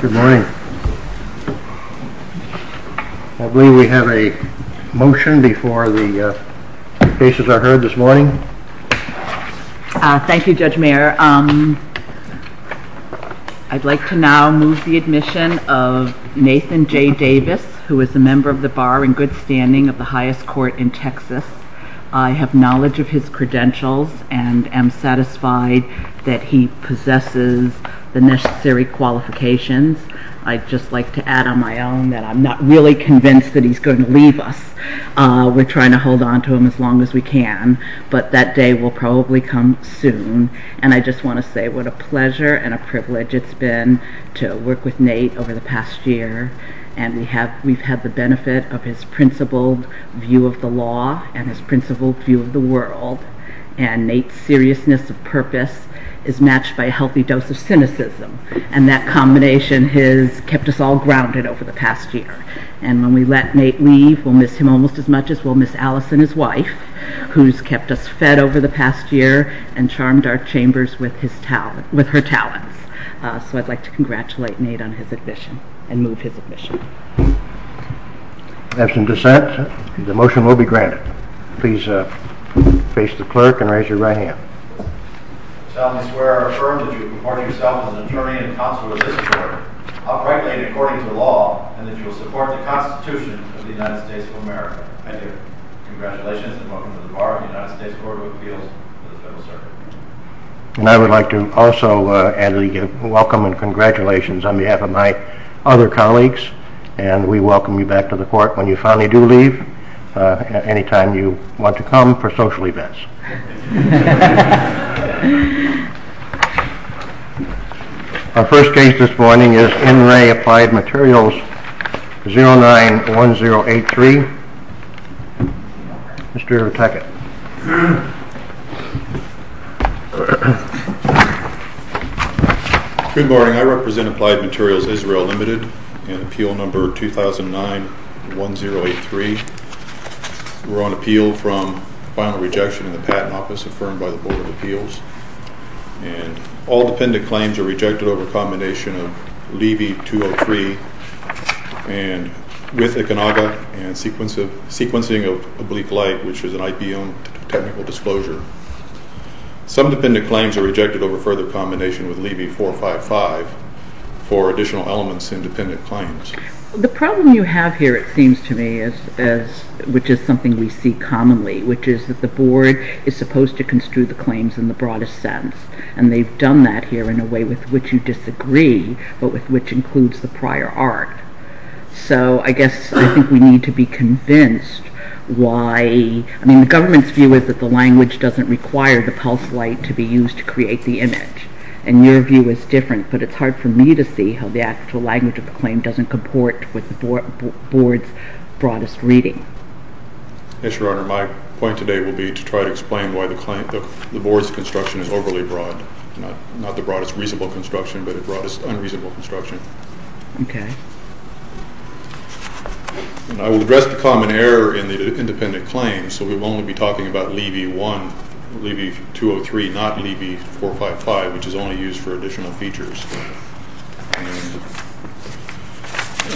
Good morning. I believe we have a motion before the cases are heard this morning. Thank You Judge Mayer. I'd like to now move the admission of Nathan J Davis who is a member of the bar in good standing of the highest court in Texas. I have knowledge of his credentials and am satisfied that he possesses the necessary qualifications. I'd just like to add on my own that I'm not really convinced that he's going to leave us. We're trying to hold on to him as long as we can but that day will probably come soon and I just want to say what a pleasure and a privilege it's been to work with Nate over the past year and we have we've had the benefit of his principled view of the law and his principled view of the world and Nate's seriousness of purpose is matched by a and that combination has kept us all grounded over the past year and when we let Nate leave we'll miss him almost as much as we'll miss Alice and his wife who's kept us fed over the past year and charmed our chambers with his talent with her talents so I'd like to congratulate Nate on his admission and move his admission. Absent dissent the motion will be granted. Please face the I would like to also add a welcome and congratulations on behalf of my other colleagues and we welcome you back to the court when you finally do leave anytime you want to come for social events. Our first case this morning is NRAA Applied Materials 091083. Mr. Teckett. Good morning I represent Applied Materials Israel Limited in appeal number 20091083. We're on appeal from final rejection in the patent office affirmed by the Board of Appeals and all dependent claims are rejected over combination of Levy 203 and with Econaga and sequencing of oblique light which is an IP owned technical disclosure. Some dependent claims are rejected over further combination with Levy 455 for additional elements in dependent claims. The problem you have here it seems to me which is something we see commonly which is that the board is supposed to construe the claims in the broadest sense and they've done that here in a way with which you disagree but with which includes the prior art. So I guess I think we need to be convinced why I mean the government's view is that the language doesn't require the pulse light to be used to create the image and your view is different but it's hard for me to see how the actual language of the reading. Yes your honor my point today will be to try to explain why the claim the board's construction is overly broad not the broadest reasonable construction but a broadest unreasonable construction. Okay. I will address the common error in the independent claims so we will only be talking about Levy 1 Levy 203 not Levy 455 which is only used for additional features.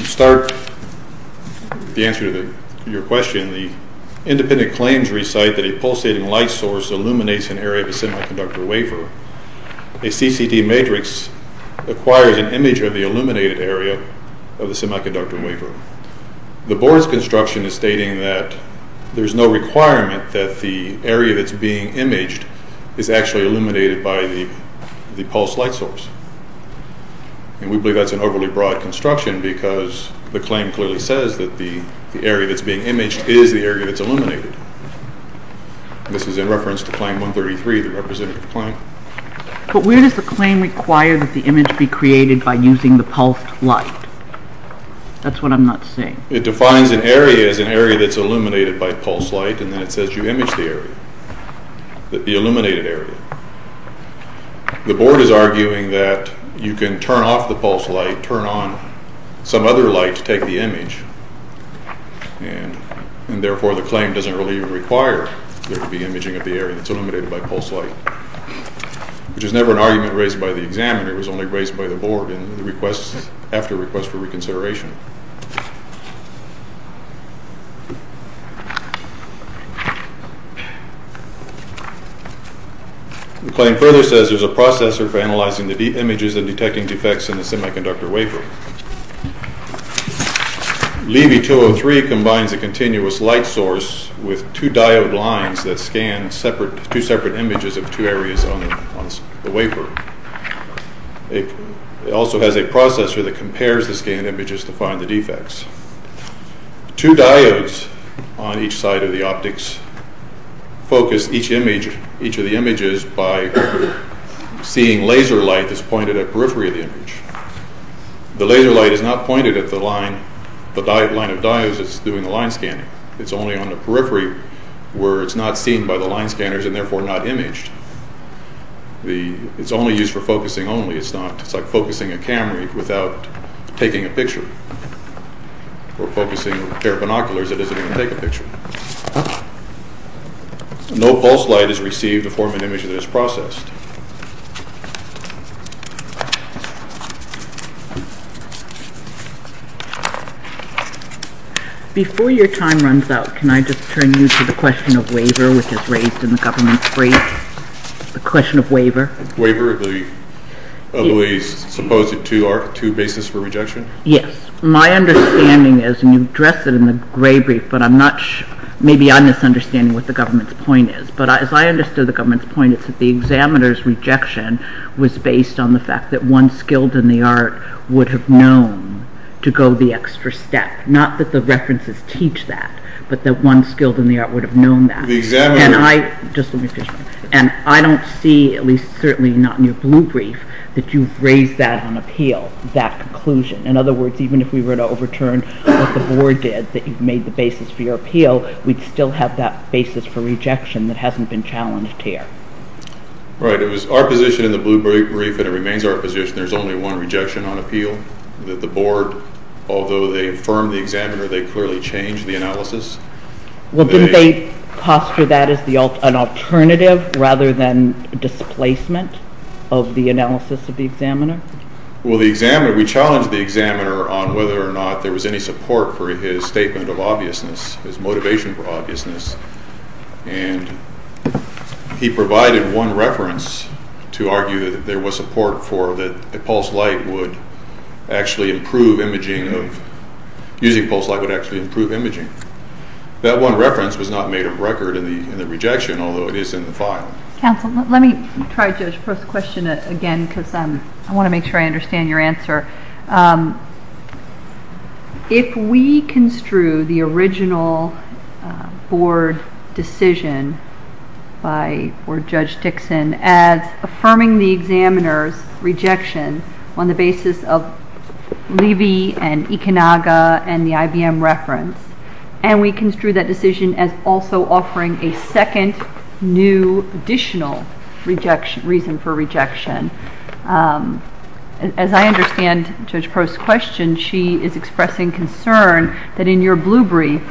Start the answer to your question the independent claims recite that a pulsating light source illuminates an area of a semiconductor wafer. A CCT matrix acquires an image of the illuminated area of the semiconductor wafer. The board's construction is stating that there's no requirement that the area that's being imaged is actually illuminated by the the pulse light source and we believe that's an overly broad construction because the claim clearly says that the area that's being imaged is the area that's illuminated. This is in reference to claim 133 the representative claim. But where does the claim require that the image be created by using the pulsed light? That's what I'm not seeing. It defines an area as an area that's illuminated by pulse light and then it says you image the area that the illuminated area. The board is arguing that you can turn off the pulse light turn on some other light to take the image and and therefore the claim doesn't really require there to be imaging of the area that's illuminated by pulse light. Which is never an argument raised by the examiner it was only raised by the board and the requests after request for reconsideration. The claim further says there's a processor for analyzing the deep images and detecting defects in the semiconductor wafer. Levy 203 combines a continuous light source with two diode lines that scan separate two separate images of two areas on the wafer. It also has a processor that compares the scan images to find the defects. Two diodes on each side of the optics focus each image each of the images by seeing laser light that's pointed at periphery of the image. The laser light is not pointed at the line the line of diodes that's doing the line scanning. It's only on the periphery where it's not seen by the line scanners and therefore not imaged. It's only used for focusing only it's not it's like focusing a camera without taking a picture or pulse light is received to form an image that is processed. Before your time runs out can I just turn you to the question of waiver which is raised in the government's brief. The question of waiver. Waiver the supposed two basis for rejection. Yes my understanding is and you addressed it in the gray brief but I'm not sure maybe I'm misunderstanding what the government's point is but as I understood the government's point is that the examiner's rejection was based on the fact that one skilled in the art would have known to go the extra step not that the references teach that but that one skilled in the art would have known that. The examiner. Just let me finish and I don't see at least certainly not in your blue brief that you've raised that on appeal that conclusion. In other words even if we were to overturn what the board did that you've made the appeal we'd still have that basis for rejection that hasn't been challenged here. Right it was our position in the blue brief and it remains our position there's only one rejection on appeal that the board although they affirmed the examiner they clearly changed the analysis. Well didn't they posture that as an alternative rather than displacement of the analysis of the examiner? Well the examiner we challenged the examiner on whether or not there was any support for his statement of obviousness his motivation for obviousness and he provided one reference to argue that there was support for that the pulse light would actually improve imaging of using pulse light would actually improve imaging. That one reference was not made of record in the rejection although it is in the file. Counsel let me try to first question it again because I'm I want to make sure I understand your answer. If we construe the original board decision by or Judge Dixon as affirming the examiner's rejection on the basis of Levy and Ekenaga and the IBM reference and we construe that decision as also offering a second new additional reason for rejection. As I understand Judge Prost's question she is expressing concern that in your blue brief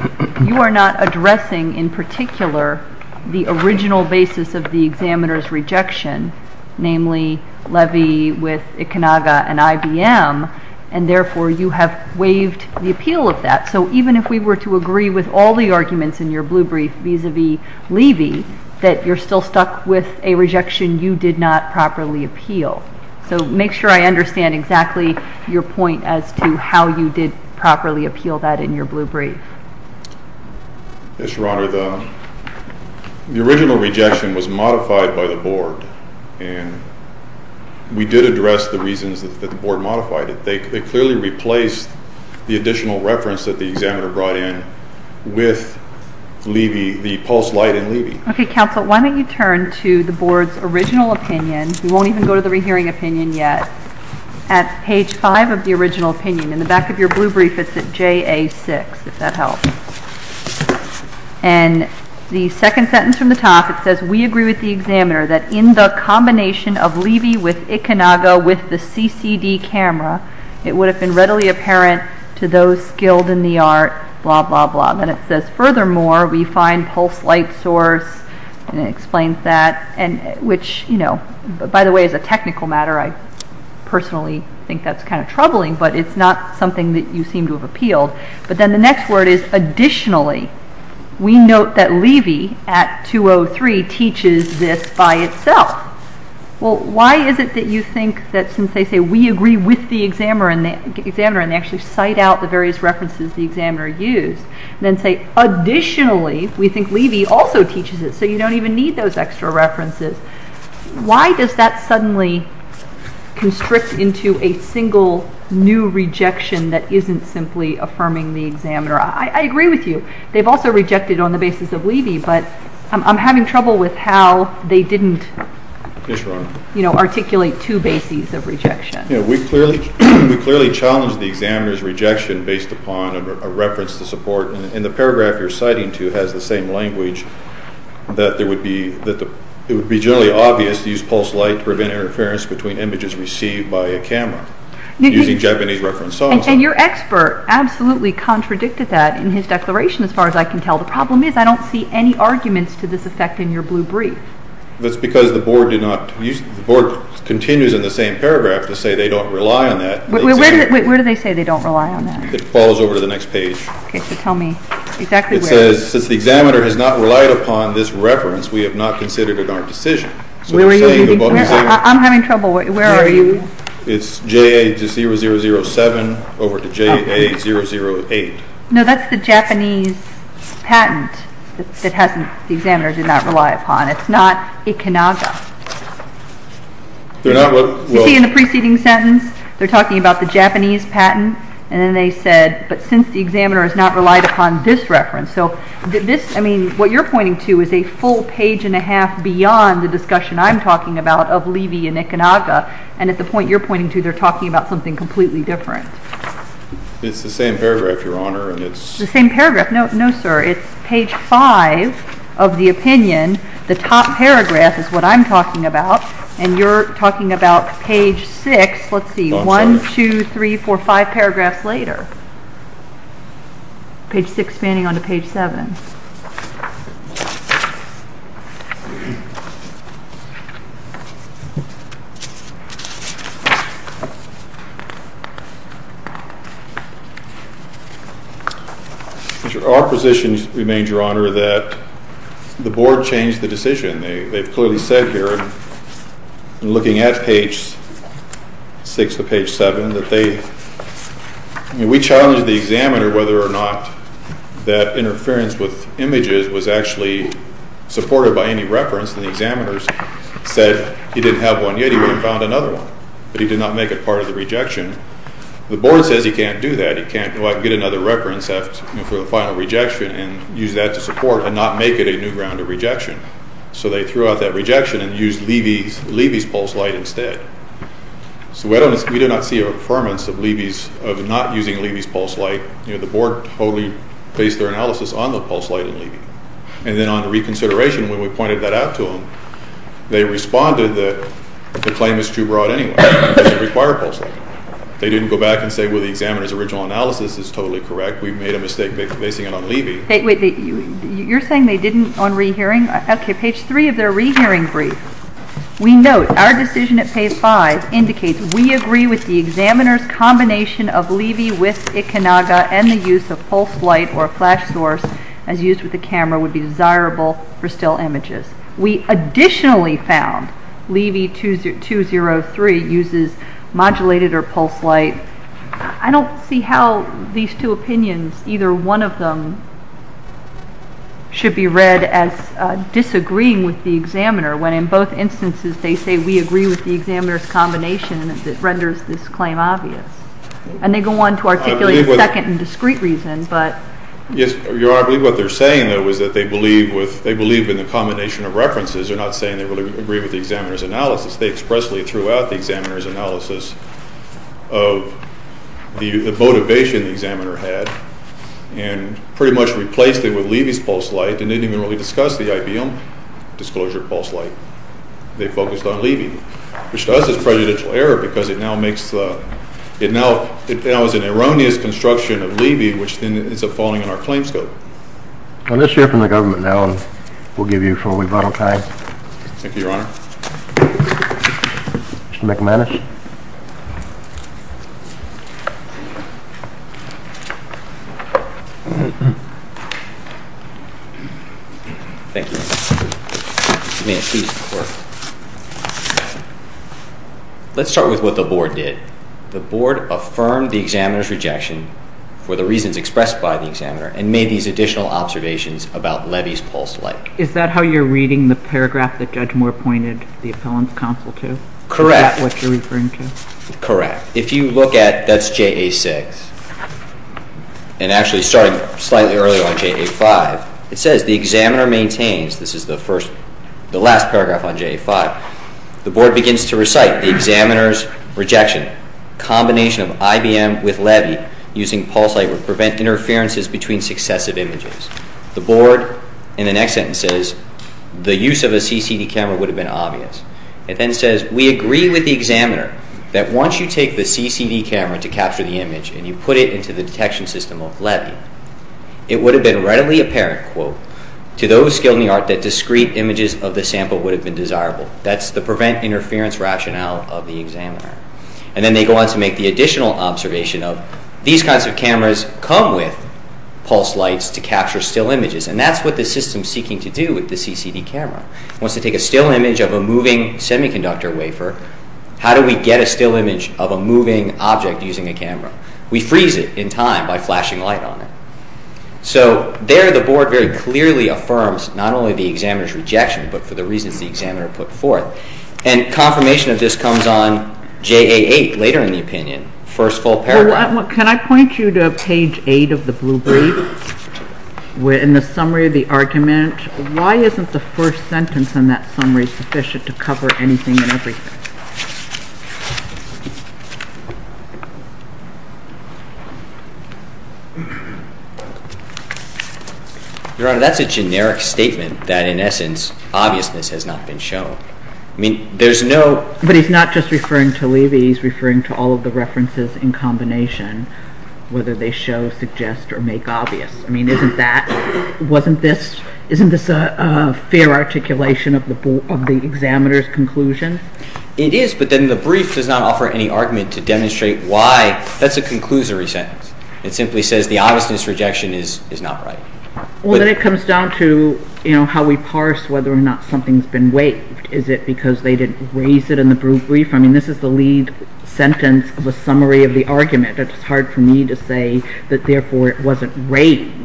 you are not addressing in particular the original basis of the examiner's rejection namely Levy with Ekenaga and IBM and therefore you have waived the appeal of that so even if we were to agree with all the arguments in your blue brief vis-a-vis Levy that you're still stuck with a rejection you did not properly appeal. So make sure I understand exactly your point as to how you did properly appeal that in your blue brief. Yes your honor the original rejection was modified by the board and we did address the reasons that the board modified it. They clearly replaced the additional reference that the examiner brought in with Levy the pulse light in Levy. Okay counsel why don't you turn to the board's original opinion you won't even go to the rehearing opinion yet at page 5 of the original opinion in the back of your blue brief it's at JA 6 if that helps and the second sentence from the top it says we agree with the examiner that in the combination of Levy with Ekenaga with the CCD camera it would have been readily apparent to those skilled in the art blah blah blah then it says furthermore we find pulse light source and it explains that and which you know by the way is a technical matter I personally think that's kind of troubling but it's not something that you seem to have appealed but then the next word is additionally we note that Levy at 203 teaches this by itself. Well why is it that you think that since they say we agree with the examiner and the examiner and actually cite out the various references the examiner used then say additionally we think Levy also teaches it so you don't even need those extra references why does that suddenly constrict into a single new rejection that isn't simply affirming the examiner I agree with you they've also rejected on the basis of Levy but I'm having trouble with how they didn't you know articulate two bases of rejection. We clearly challenged the examiner's upon a reference to support and the paragraph you're citing to has the same language that there would be that it would be generally obvious to use pulse light to prevent interference between images received by a camera using Japanese reference. And your expert absolutely contradicted that in his declaration as far as I can tell the problem is I don't see any arguments to this effect in your blue brief. That's because the board did not use the board continues in the same paragraph to say they don't rely on that. Where do they say they don't rely on that? It falls over to the next page. Okay so tell me exactly. It says since the examiner has not relied upon this reference we have not considered in our decision. Where are you? I'm having trouble where are you? It's JA0007 over to JA008. No that's the Japanese patent that hasn't the examiner did not rely upon it's not Ikanaga. They're not. You see in the and then they said but since the examiner has not relied upon this reference so this I mean what you're pointing to is a full page and a half beyond the discussion I'm talking about of Levy and Ikanaga and at the point you're pointing to they're talking about something completely different. It's the same paragraph your honor and it's the same paragraph no no sir it's page 5 of the opinion the top paragraph is what I'm talking about and you're talking about page 6 let's see 1, 2, 3, 4, 5 paragraphs later page 6 spanning on to page 7. Our position remains your honor that the board changed the decision they've clearly said here looking at page 6 to page 7 that they we challenged the examiner whether or not that interference with images was actually supported by any reference and the examiners said he didn't have one yet he wouldn't found another one but he did not make it part of the rejection. The board says he can't do that he can't go out and get another reference for the final rejection and use that to support and not make it a new ground of rejection and use Levy's pulse light instead. So we do not see a affirmance of Levy's of not using Levy's pulse light you know the board totally based their analysis on the pulse light in Levy and then on the reconsideration when we pointed that out to them they responded that the claim is too broad anyway it doesn't require pulse light. They didn't go back and say well the examiner's original analysis is totally correct we've made a mistake basing it on Levy. Wait you're saying they didn't on rehearing okay page 3 of their hearing brief we note our decision at page 5 indicates we agree with the examiner's combination of Levy with Ikenaga and the use of pulse light or a flash source as used with the camera would be desirable for still images. We additionally found Levy 203 uses modulated or pulse light. I don't see how these two opinions either one of them should be read as disagreeing with the examiner when in both instances they say we agree with the examiner's combination that renders this claim obvious and they go on to articulate second and discreet reason but. Yes your honor I believe what they're saying though is that they believe with they believe in the combination of references they're not saying they really agree with the examiner's analysis they expressly threw out the examiner's analysis of the motivation the examiner had and pretty much replaced it with Levy's pulse light and didn't even really discuss the IBM disclosure of pulse light they focused on Levy which to us is prejudicial error because it now makes it now it now is an erroneous construction of Levy which then ends up falling in our claim scope. I'll issue it from the government now and we'll give you some time before we vote okay. Thank you your honor. Mr. McManus let's start with what the board did the board affirmed the examiner's rejection for the reasons expressed by the examiner and made these additional observations about Levy's pulse light. Is that how you're reading the paragraph that Judge Moore pointed the appellant's counsel to? Correct. Is that what you're referring to? Correct. If you look at that's JA6 and actually starting slightly earlier on JA5 it says the examiner maintains this is the first the last paragraph on JA5 the board begins to recite the examiner's rejection combination of IBM with Levy using pulse light to prevent interferences between successive images. The board in the next sentence says the use of a CCD camera would have been obvious. It then says we agree with the examiner that once you take the CCD camera to capture the image and you put it into the detection system of Levy it would have been readily apparent quote to those skilled in the art that discrete images of the sample would have been desirable. That's the prevent interference rationale of the examiner. And then they go on to make the additional observation of these kinds of cameras come with pulse lights to capture still images and that's what the system seeking to do with the CCD camera. It wants to take a still image of a moving semiconductor wafer. How do we get a still image of a moving object using a camera? We freeze it in time by flashing light on it. So there the board very clearly affirms not only the examiner's rejection but for the reasons the examiner put forth. And confirmation of this comes on JA8 later in the opinion. First full paragraph. Can I point you to page 8 of the blue brief? In the summary of the argument why isn't the first sentence in that summary sufficient to cover anything and everything? Your Honor that's a generic statement that in essence obviousness has not been shown. I mean there's no. But he's not just referring to Levy he's referring to all the references in combination whether they show suggest or make obvious. I mean isn't that wasn't this isn't this a fair articulation of the board of the examiner's conclusion? It is but then the brief does not offer any argument to demonstrate why. That's a conclusory sentence. It simply says the obviousness rejection is is not right. Well then it comes down to you know how we parse whether or not something's been waived. Is it because they didn't raise it in the lead sentence of a summary of the argument? It's hard for me to say that therefore it wasn't raised.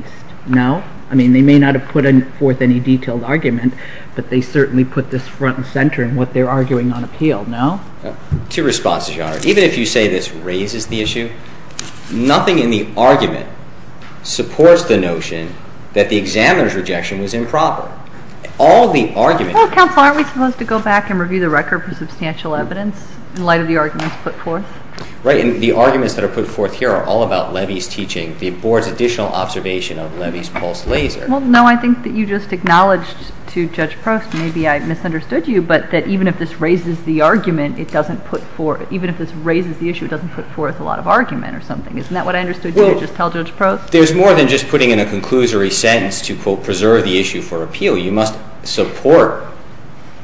No? I mean they may not have put in forth any detailed argument but they certainly put this front and center in what they're arguing on appeal. No? Two responses Your Honor. Even if you say this raises the issue nothing in the argument supports the notion that the examiner's rejection was improper. All the argument. Counsel aren't we supposed to go back and review the record for substantial evidence in light of the arguments put forth? Right and the arguments that are put forth here are all about Levy's teaching the board's additional observation of Levy's pulse laser. Well no I think that you just acknowledged to Judge Prost maybe I misunderstood you but that even if this raises the argument it doesn't put forth even if this raises the issue it doesn't put forth a lot of argument or something. Isn't that what I understood you just tell Judge Prost? There's more than just putting in a conclusory sentence to support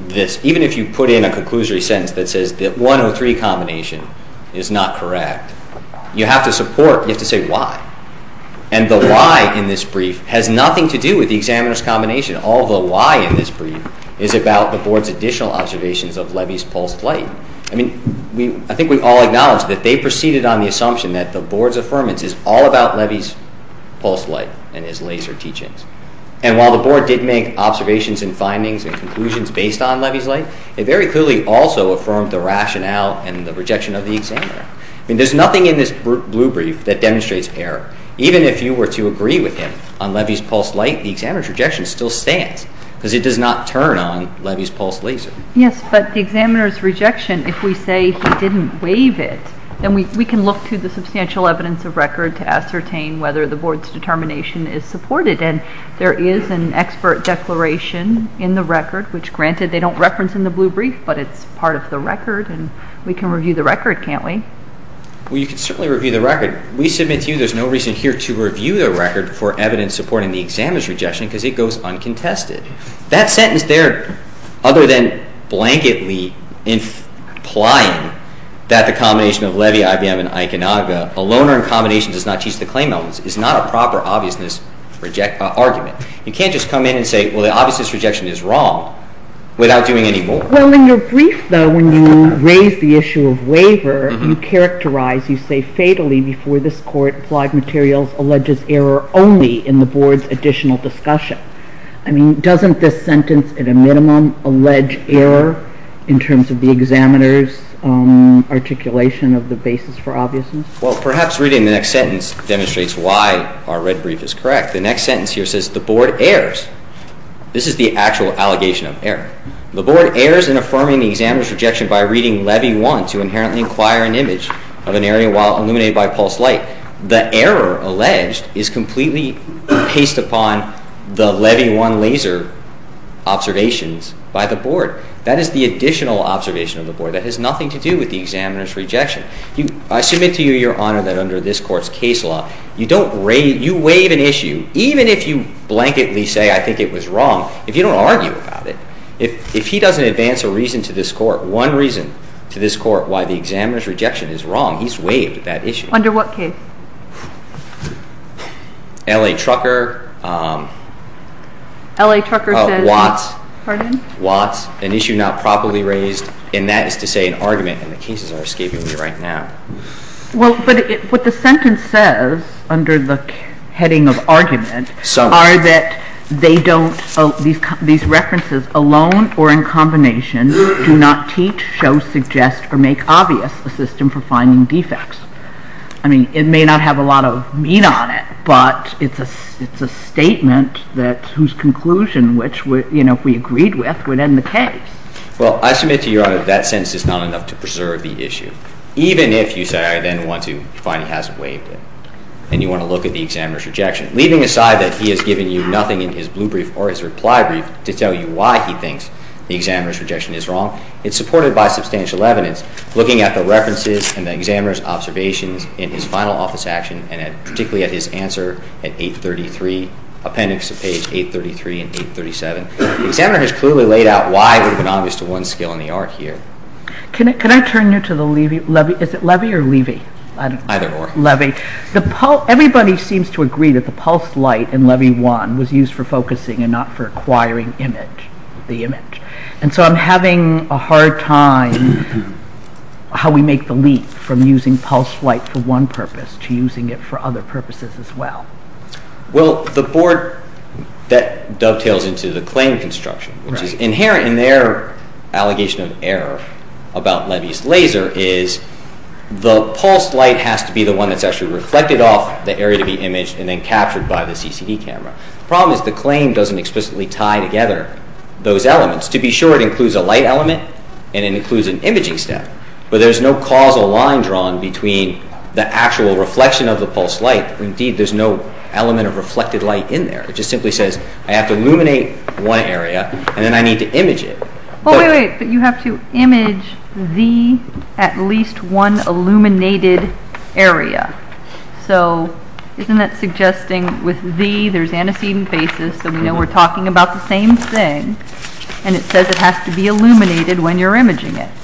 this even if you put in a conclusory sentence that says that 103 combination is not correct. You have to support you have to say why and the why in this brief has nothing to do with the examiner's combination. All the why in this brief is about the board's additional observations of Levy's pulse light. I mean we I think we've all acknowledged that they proceeded on the assumption that the board's affirmance is all about Levy's pulse light and his board did make observations and findings and conclusions based on Levy's light it very clearly also affirmed the rationale and the rejection of the examiner. I mean there's nothing in this blue brief that demonstrates error even if you were to agree with him on Levy's pulse light the examiner's rejection still stands because it does not turn on Levy's pulse laser. Yes but the examiner's rejection if we say he didn't waive it then we can look to the substantial evidence of record to ascertain whether the board's supported and there is an expert declaration in the record which granted they don't reference in the blue brief but it's part of the record and we can review the record can't we? Well you can certainly review the record. We submit to you there's no reason here to review the record for evidence supporting the examiner's rejection because it goes uncontested. That sentence there other than blanketly implying that the combination of Levy, IBM and Ikenaga, a loaner in combination does not teach the claim elements is not a proper obviousness argument. You can't just come in and say well the obviousness rejection is wrong without doing any more. Well in your brief though when you raise the issue of waiver you characterize you say fatally before this court applied materials alleges error only in the board's additional discussion. I mean doesn't this sentence at a minimum allege error in terms of the examiner's articulation of the basis for obviousness? Well perhaps reading the sentence demonstrates why our red brief is correct. The next sentence here says the board errs. This is the actual allegation of error. The board errs in affirming the examiner's rejection by reading Levy 1 to inherently inquire an image of an area while illuminated by pulsed light. The error alleged is completely based upon the Levy 1 laser observations by the board. That is the additional observation of the board that has nothing to do with the examiner's case law. You don't raise, you waive an issue even if you blanketly say I think it was wrong, if you don't argue about it, if he doesn't advance a reason to this court, one reason to this court why the examiner's rejection is wrong, he's waived that issue. Under what case? L.A. Trucker. L.A. Trucker. Watts. Watts. An issue not properly raised and that is to say an argument and the cases are escaping me right now. Well but what the sentence says under the heading of argument are that they don't, these references alone or in combination do not teach, show, suggest, or make obvious a system for finding defects. I mean it may not have a lot of meat on it but it's a statement that whose conclusion which would, you know, if we agreed with would end the case. Well I submit to Your Honor that I don't think that's the issue. Even if you say I then want to find he hasn't waived it and you want to look at the examiner's rejection. Leaving aside that he has given you nothing in his blue brief or his reply brief to tell you why he thinks the examiner's rejection is wrong, it's supported by substantial evidence. Looking at the references and the examiner's observations in his final office action and particularly at his answer at 833, appendix of page 833 and 837, the examiner has clearly laid out why it would have been obvious to one skill in the other. I'm going to go back to the Levy. Is it Levy or Levy? Either or. Everybody seems to agree that the pulse light in Levy 1 was used for focusing and not for acquiring image, the image, and so I'm having a hard time how we make the leap from using pulse light for one purpose to using it for other purposes as well. Well the board that dovetails into the claim construction which is the pulse light has to be the one that's actually reflected off the area to be imaged and then captured by the CCD camera. The problem is the claim doesn't explicitly tie together those elements. To be sure it includes a light element and it includes an imaging step but there's no causal line drawn between the actual reflection of the pulse light. Indeed there's no element of reflected light in there. It just simply says I have to illuminate one area and then I have to image the at least one illuminated area. So isn't that suggesting with the there's antecedent basis so we know we're talking about the same thing and it says it has to be illuminated when you're imaging it.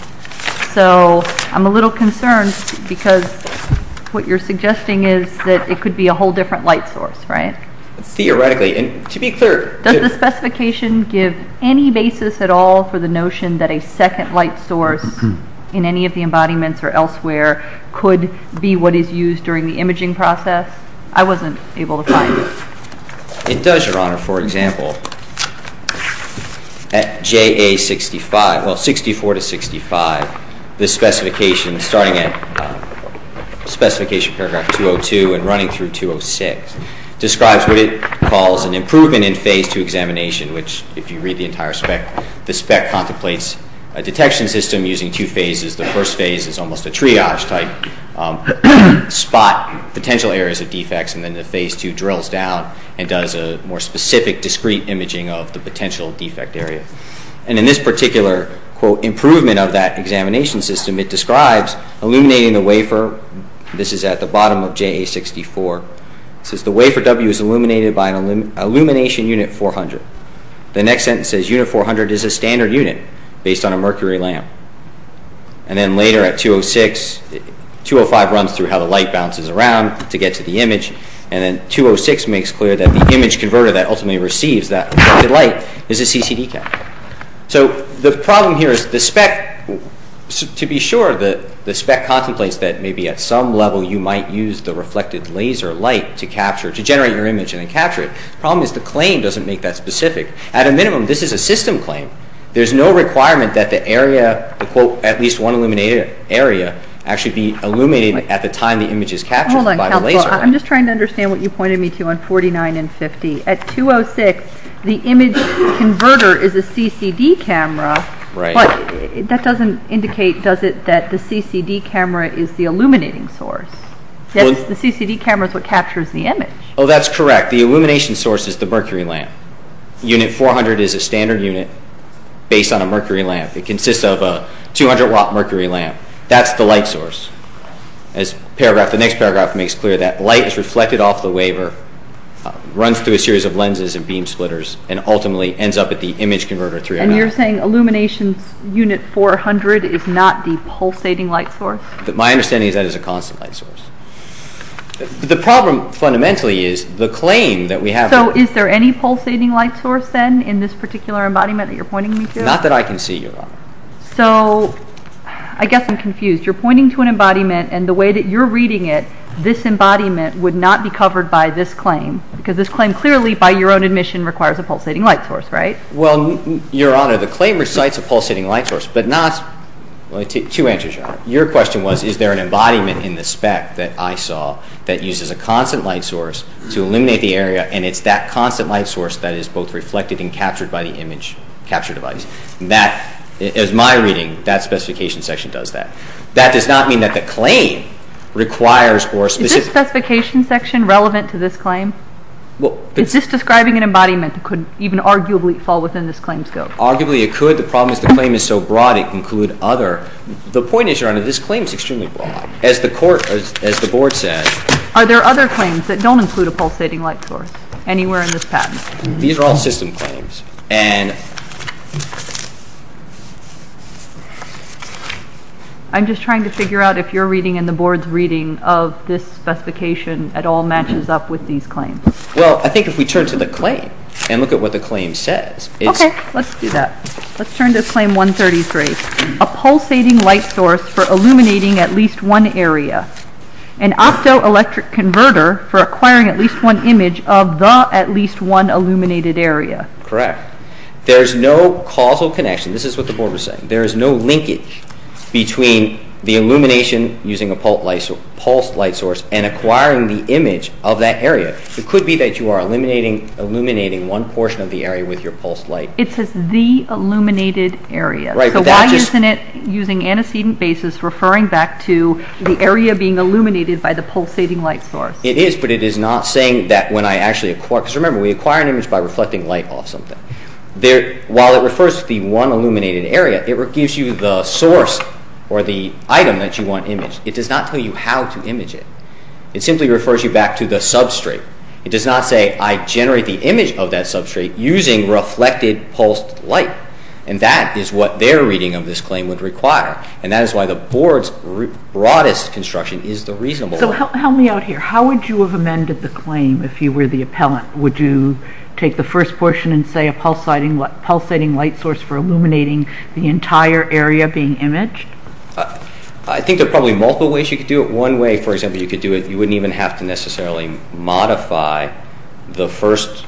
So I'm a little concerned because what you're suggesting is that it could be a whole different light source right? Theoretically and to be clear. Does the second light source in any of the embodiments or elsewhere could be what is used during the imaging process? I wasn't able to find it. It does Your Honor. For example at JA 65 well 64 to 65 the specification starting at specification paragraph 202 and running through 206 describes what it calls an improvement in phase two examination which if you read the entire spec the detection system using two phases the first phase is almost a triage type spot potential areas of defects and then the phase two drills down and does a more specific discrete imaging of the potential defect area. And in this particular quote improvement of that examination system it describes illuminating the wafer. This is at the bottom of JA 64. It says the wafer W is illuminated by an illumination unit 400. The next sentence says unit 400 is a mercury lamp. And then later at 206, 205 runs through how the light bounces around to get to the image and then 206 makes clear that the image converter that ultimately receives that light is a CCD cap. So the problem here is the spec to be sure that the spec contemplates that maybe at some level you might use the reflected laser light to capture to generate your image and then capture it. The problem is the claim doesn't make that specific. At a requirement that the area the quote at least one illuminated area actually be illuminated at the time the image is captured by the laser. I'm just trying to understand what you pointed me to on 49 and 50. At 206 the image converter is a CCD camera. Right. But that doesn't indicate does it that the CCD camera is the illuminating source. Yes the CCD camera is what captures the image. Oh that's correct the illumination source is the mercury lamp. Unit 400 is a mercury lamp. It consists of a 200 watt mercury lamp. That's the light source. As paragraph the next paragraph makes clear that light is reflected off the waver runs through a series of lenses and beam splitters and ultimately ends up at the image converter. And you're saying illuminations unit 400 is not the pulsating light source. My understanding is that is a constant light source. The problem fundamentally is the claim that we have. So is there any pulsating light source then in this particular embodiment that you're pointing me to. Not that I can see your honor. So I guess I'm confused. You're pointing to an embodiment and the way that you're reading it this embodiment would not be covered by this claim. Because this claim clearly by your own admission requires a pulsating light source right. Well your honor the claim recites a pulsating light source but not. Let me take two answers your honor. Your question was is there an embodiment in the spec that I saw that uses a constant light source to reflect it and capture it by the image capture device. That is my reading that specification section does that. That does not mean that the claim requires or specific. Is this specification section relevant to this claim? Well. Is this describing an embodiment that could even arguably fall within this claim scope? Arguably it could. The problem is the claim is so broad it could include other. The point is your honor this claim is extremely broad. As the court as the board said. Are there other claims that don't include a pulsating light source anywhere in this system claims and. I'm just trying to figure out if you're reading in the board's reading of this specification at all matches up with these claims. Well I think if we turn to the claim and look at what the claim says. Okay let's do that. Let's turn to claim 133. A pulsating light source for illuminating at least one area. An optoelectric converter for acquiring at least one image of the at least one area. Correct. There's no causal connection. This is what the board was saying. There is no linkage between the illumination using a pulse light source and acquiring the image of that area. It could be that you are illuminating one portion of the area with your pulse light. It says the illuminated area. Right. So why isn't it using antecedent basis referring back to the area being illuminated by the pulsating light source. It is but it is not saying that when I actually. Because remember we acquire an image by reflecting light off something. While it refers to the one illuminated area, it gives you the source or the item that you want imaged. It does not tell you how to image it. It simply refers you back to the substrate. It does not say I generate the image of that substrate using reflected pulsed light. And that is what their reading of this claim would require. And that is why the board's broadest construction is the reasonable one. So help me out here. How would you have the first portion and say a pulsating light source for illuminating the entire area being imaged? I think there are probably multiple ways you could do it. One way for example you could do it, you would not even have to necessarily modify the first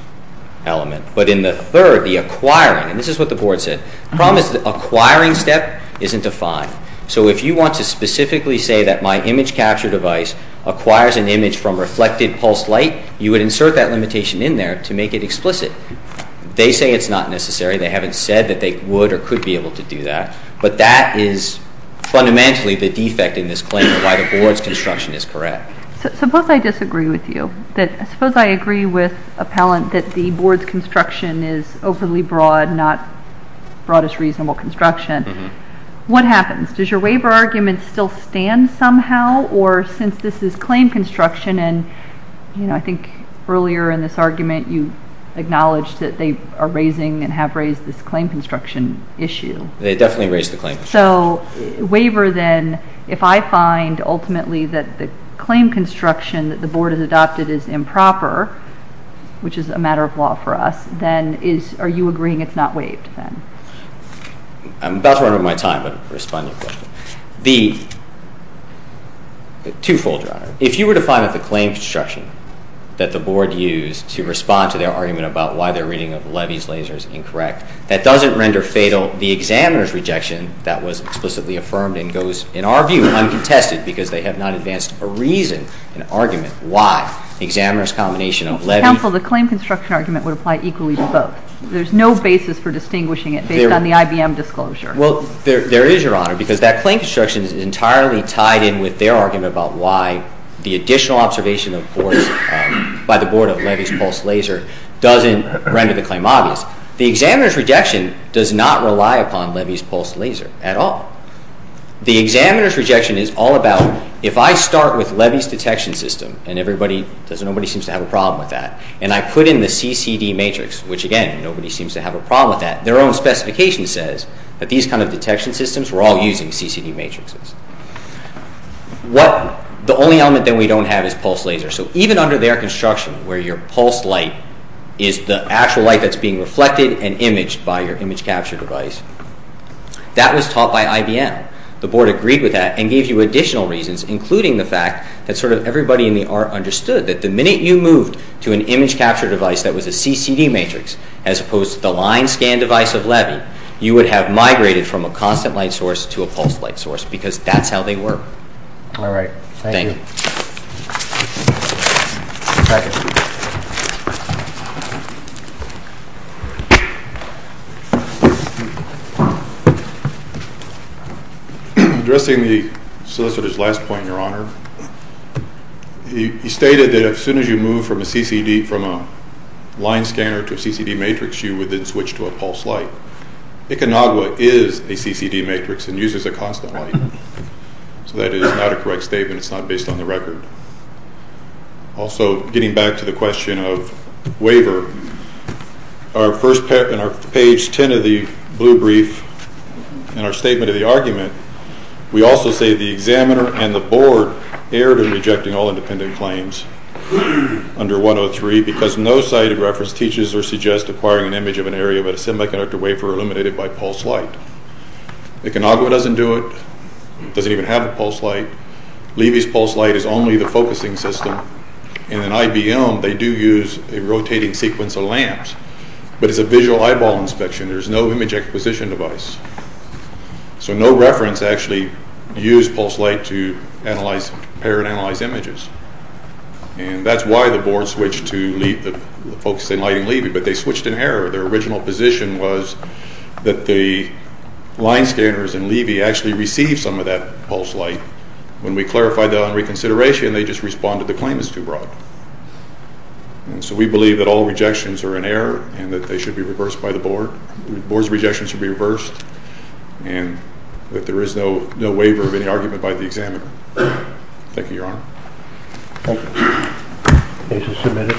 element. But in the third, the acquiring, and this is what the board said. The problem is the acquiring step is not defined. So if you want to specifically say that my image capture device acquires an image from reflected pulsed light, you would insert that limitation in there to make it explicit. They say it's not necessary. They haven't said that they would or could be able to do that. But that is fundamentally the defect in this claim, why the board's construction is correct. Suppose I disagree with you. Suppose I agree with appellant that the board's construction is overly broad, not broadest reasonable construction. What happens? Does your waiver argument still stand somehow? Or since this is claim construction and you know I think earlier in this argument you acknowledged that they are raising and have raised this claim construction issue. They definitely raised the claim. So waiver then, if I find ultimately that the claim construction that the board has adopted is improper, which is a matter of law for us, then is, are you agreeing it's not waived? I'm about to run out of my time but I'll respond to your question. The twofold, Your Honor. If you were to find that the claim construction that the board used to respond to their argument about why they're reading of levees, lasers incorrect, that doesn't render fatal the examiner's rejection that was explicitly affirmed and goes, in our view, uncontested because they have not advanced a reason, an argument, why the examiner's combination of levees. Counsel, the claim construction argument would apply equally to both. There's no basis for distinguishing it based on the IBM disclosure. Well, there is, Your Honor, because that claim construction is entirely tied in with their argument about why the additional observation of course by the board of levees, pulse, laser doesn't render the claim obvious. The examiner's rejection does not rely upon levees, pulse, laser at all. The examiner's rejection is all about, if I start with levees detection system and everybody, nobody seems to have a problem with that, and I put in the CCD matrix, which again nobody seems to have a problem with that, their own specification says that these kind of detection systems, we're all using CCD matrixes. What, the only element that we don't have is pulse laser, so even under their construction where your pulse light is the actual light that's being reflected and imaged by your image capture device, that was taught by IBM. The board agreed with that and gave you additional reasons, including the fact that sort of everybody in the art understood that the minute you moved to an image capture device that was a pulse light, you have migrated from a constant light source to a pulse light source, because that's how they work. Alright, thank you. Addressing the solicitor's last point, your honor, he stated that as soon as you move from a CCD, from a line scanner to a CCD matrix, you would then switch to a pulse light. ICANAGUA is a CCD matrix and uses a constant light, so that is not a correct statement, it's not based on the record. Also, getting back to the question of waiver, in our page 10 of the blue brief, in our statement of the argument, we also say the examiner and the board erred in rejecting all independent claims under 103 because no sighted reference teaches or suggests acquiring an image of an area but a semiconductor wafer eliminated by pulse light. ICANAGUA doesn't do it, doesn't even have a pulse light. Levy's pulse light is only the focusing system and in IBM, they do use a rotating sequence of lamps, but it's a visual eyeball inspection, there's no image acquisition device. So no reference actually used pulse light to compare and analyze images. And that's why the board switched to focusing light in Levy, but they switched in error. Their original position was that the line scanners in Levy actually received some of that pulse light. When we clarified that on reconsideration, they just responded the claim is too broad. And so we believe that all rejections are in error and that they should be reversed by the board. Board's rejections should be reversed and that there is no waiver of any argument by the examiner. Thank you, Your Honor. Thank you. Case is submitted.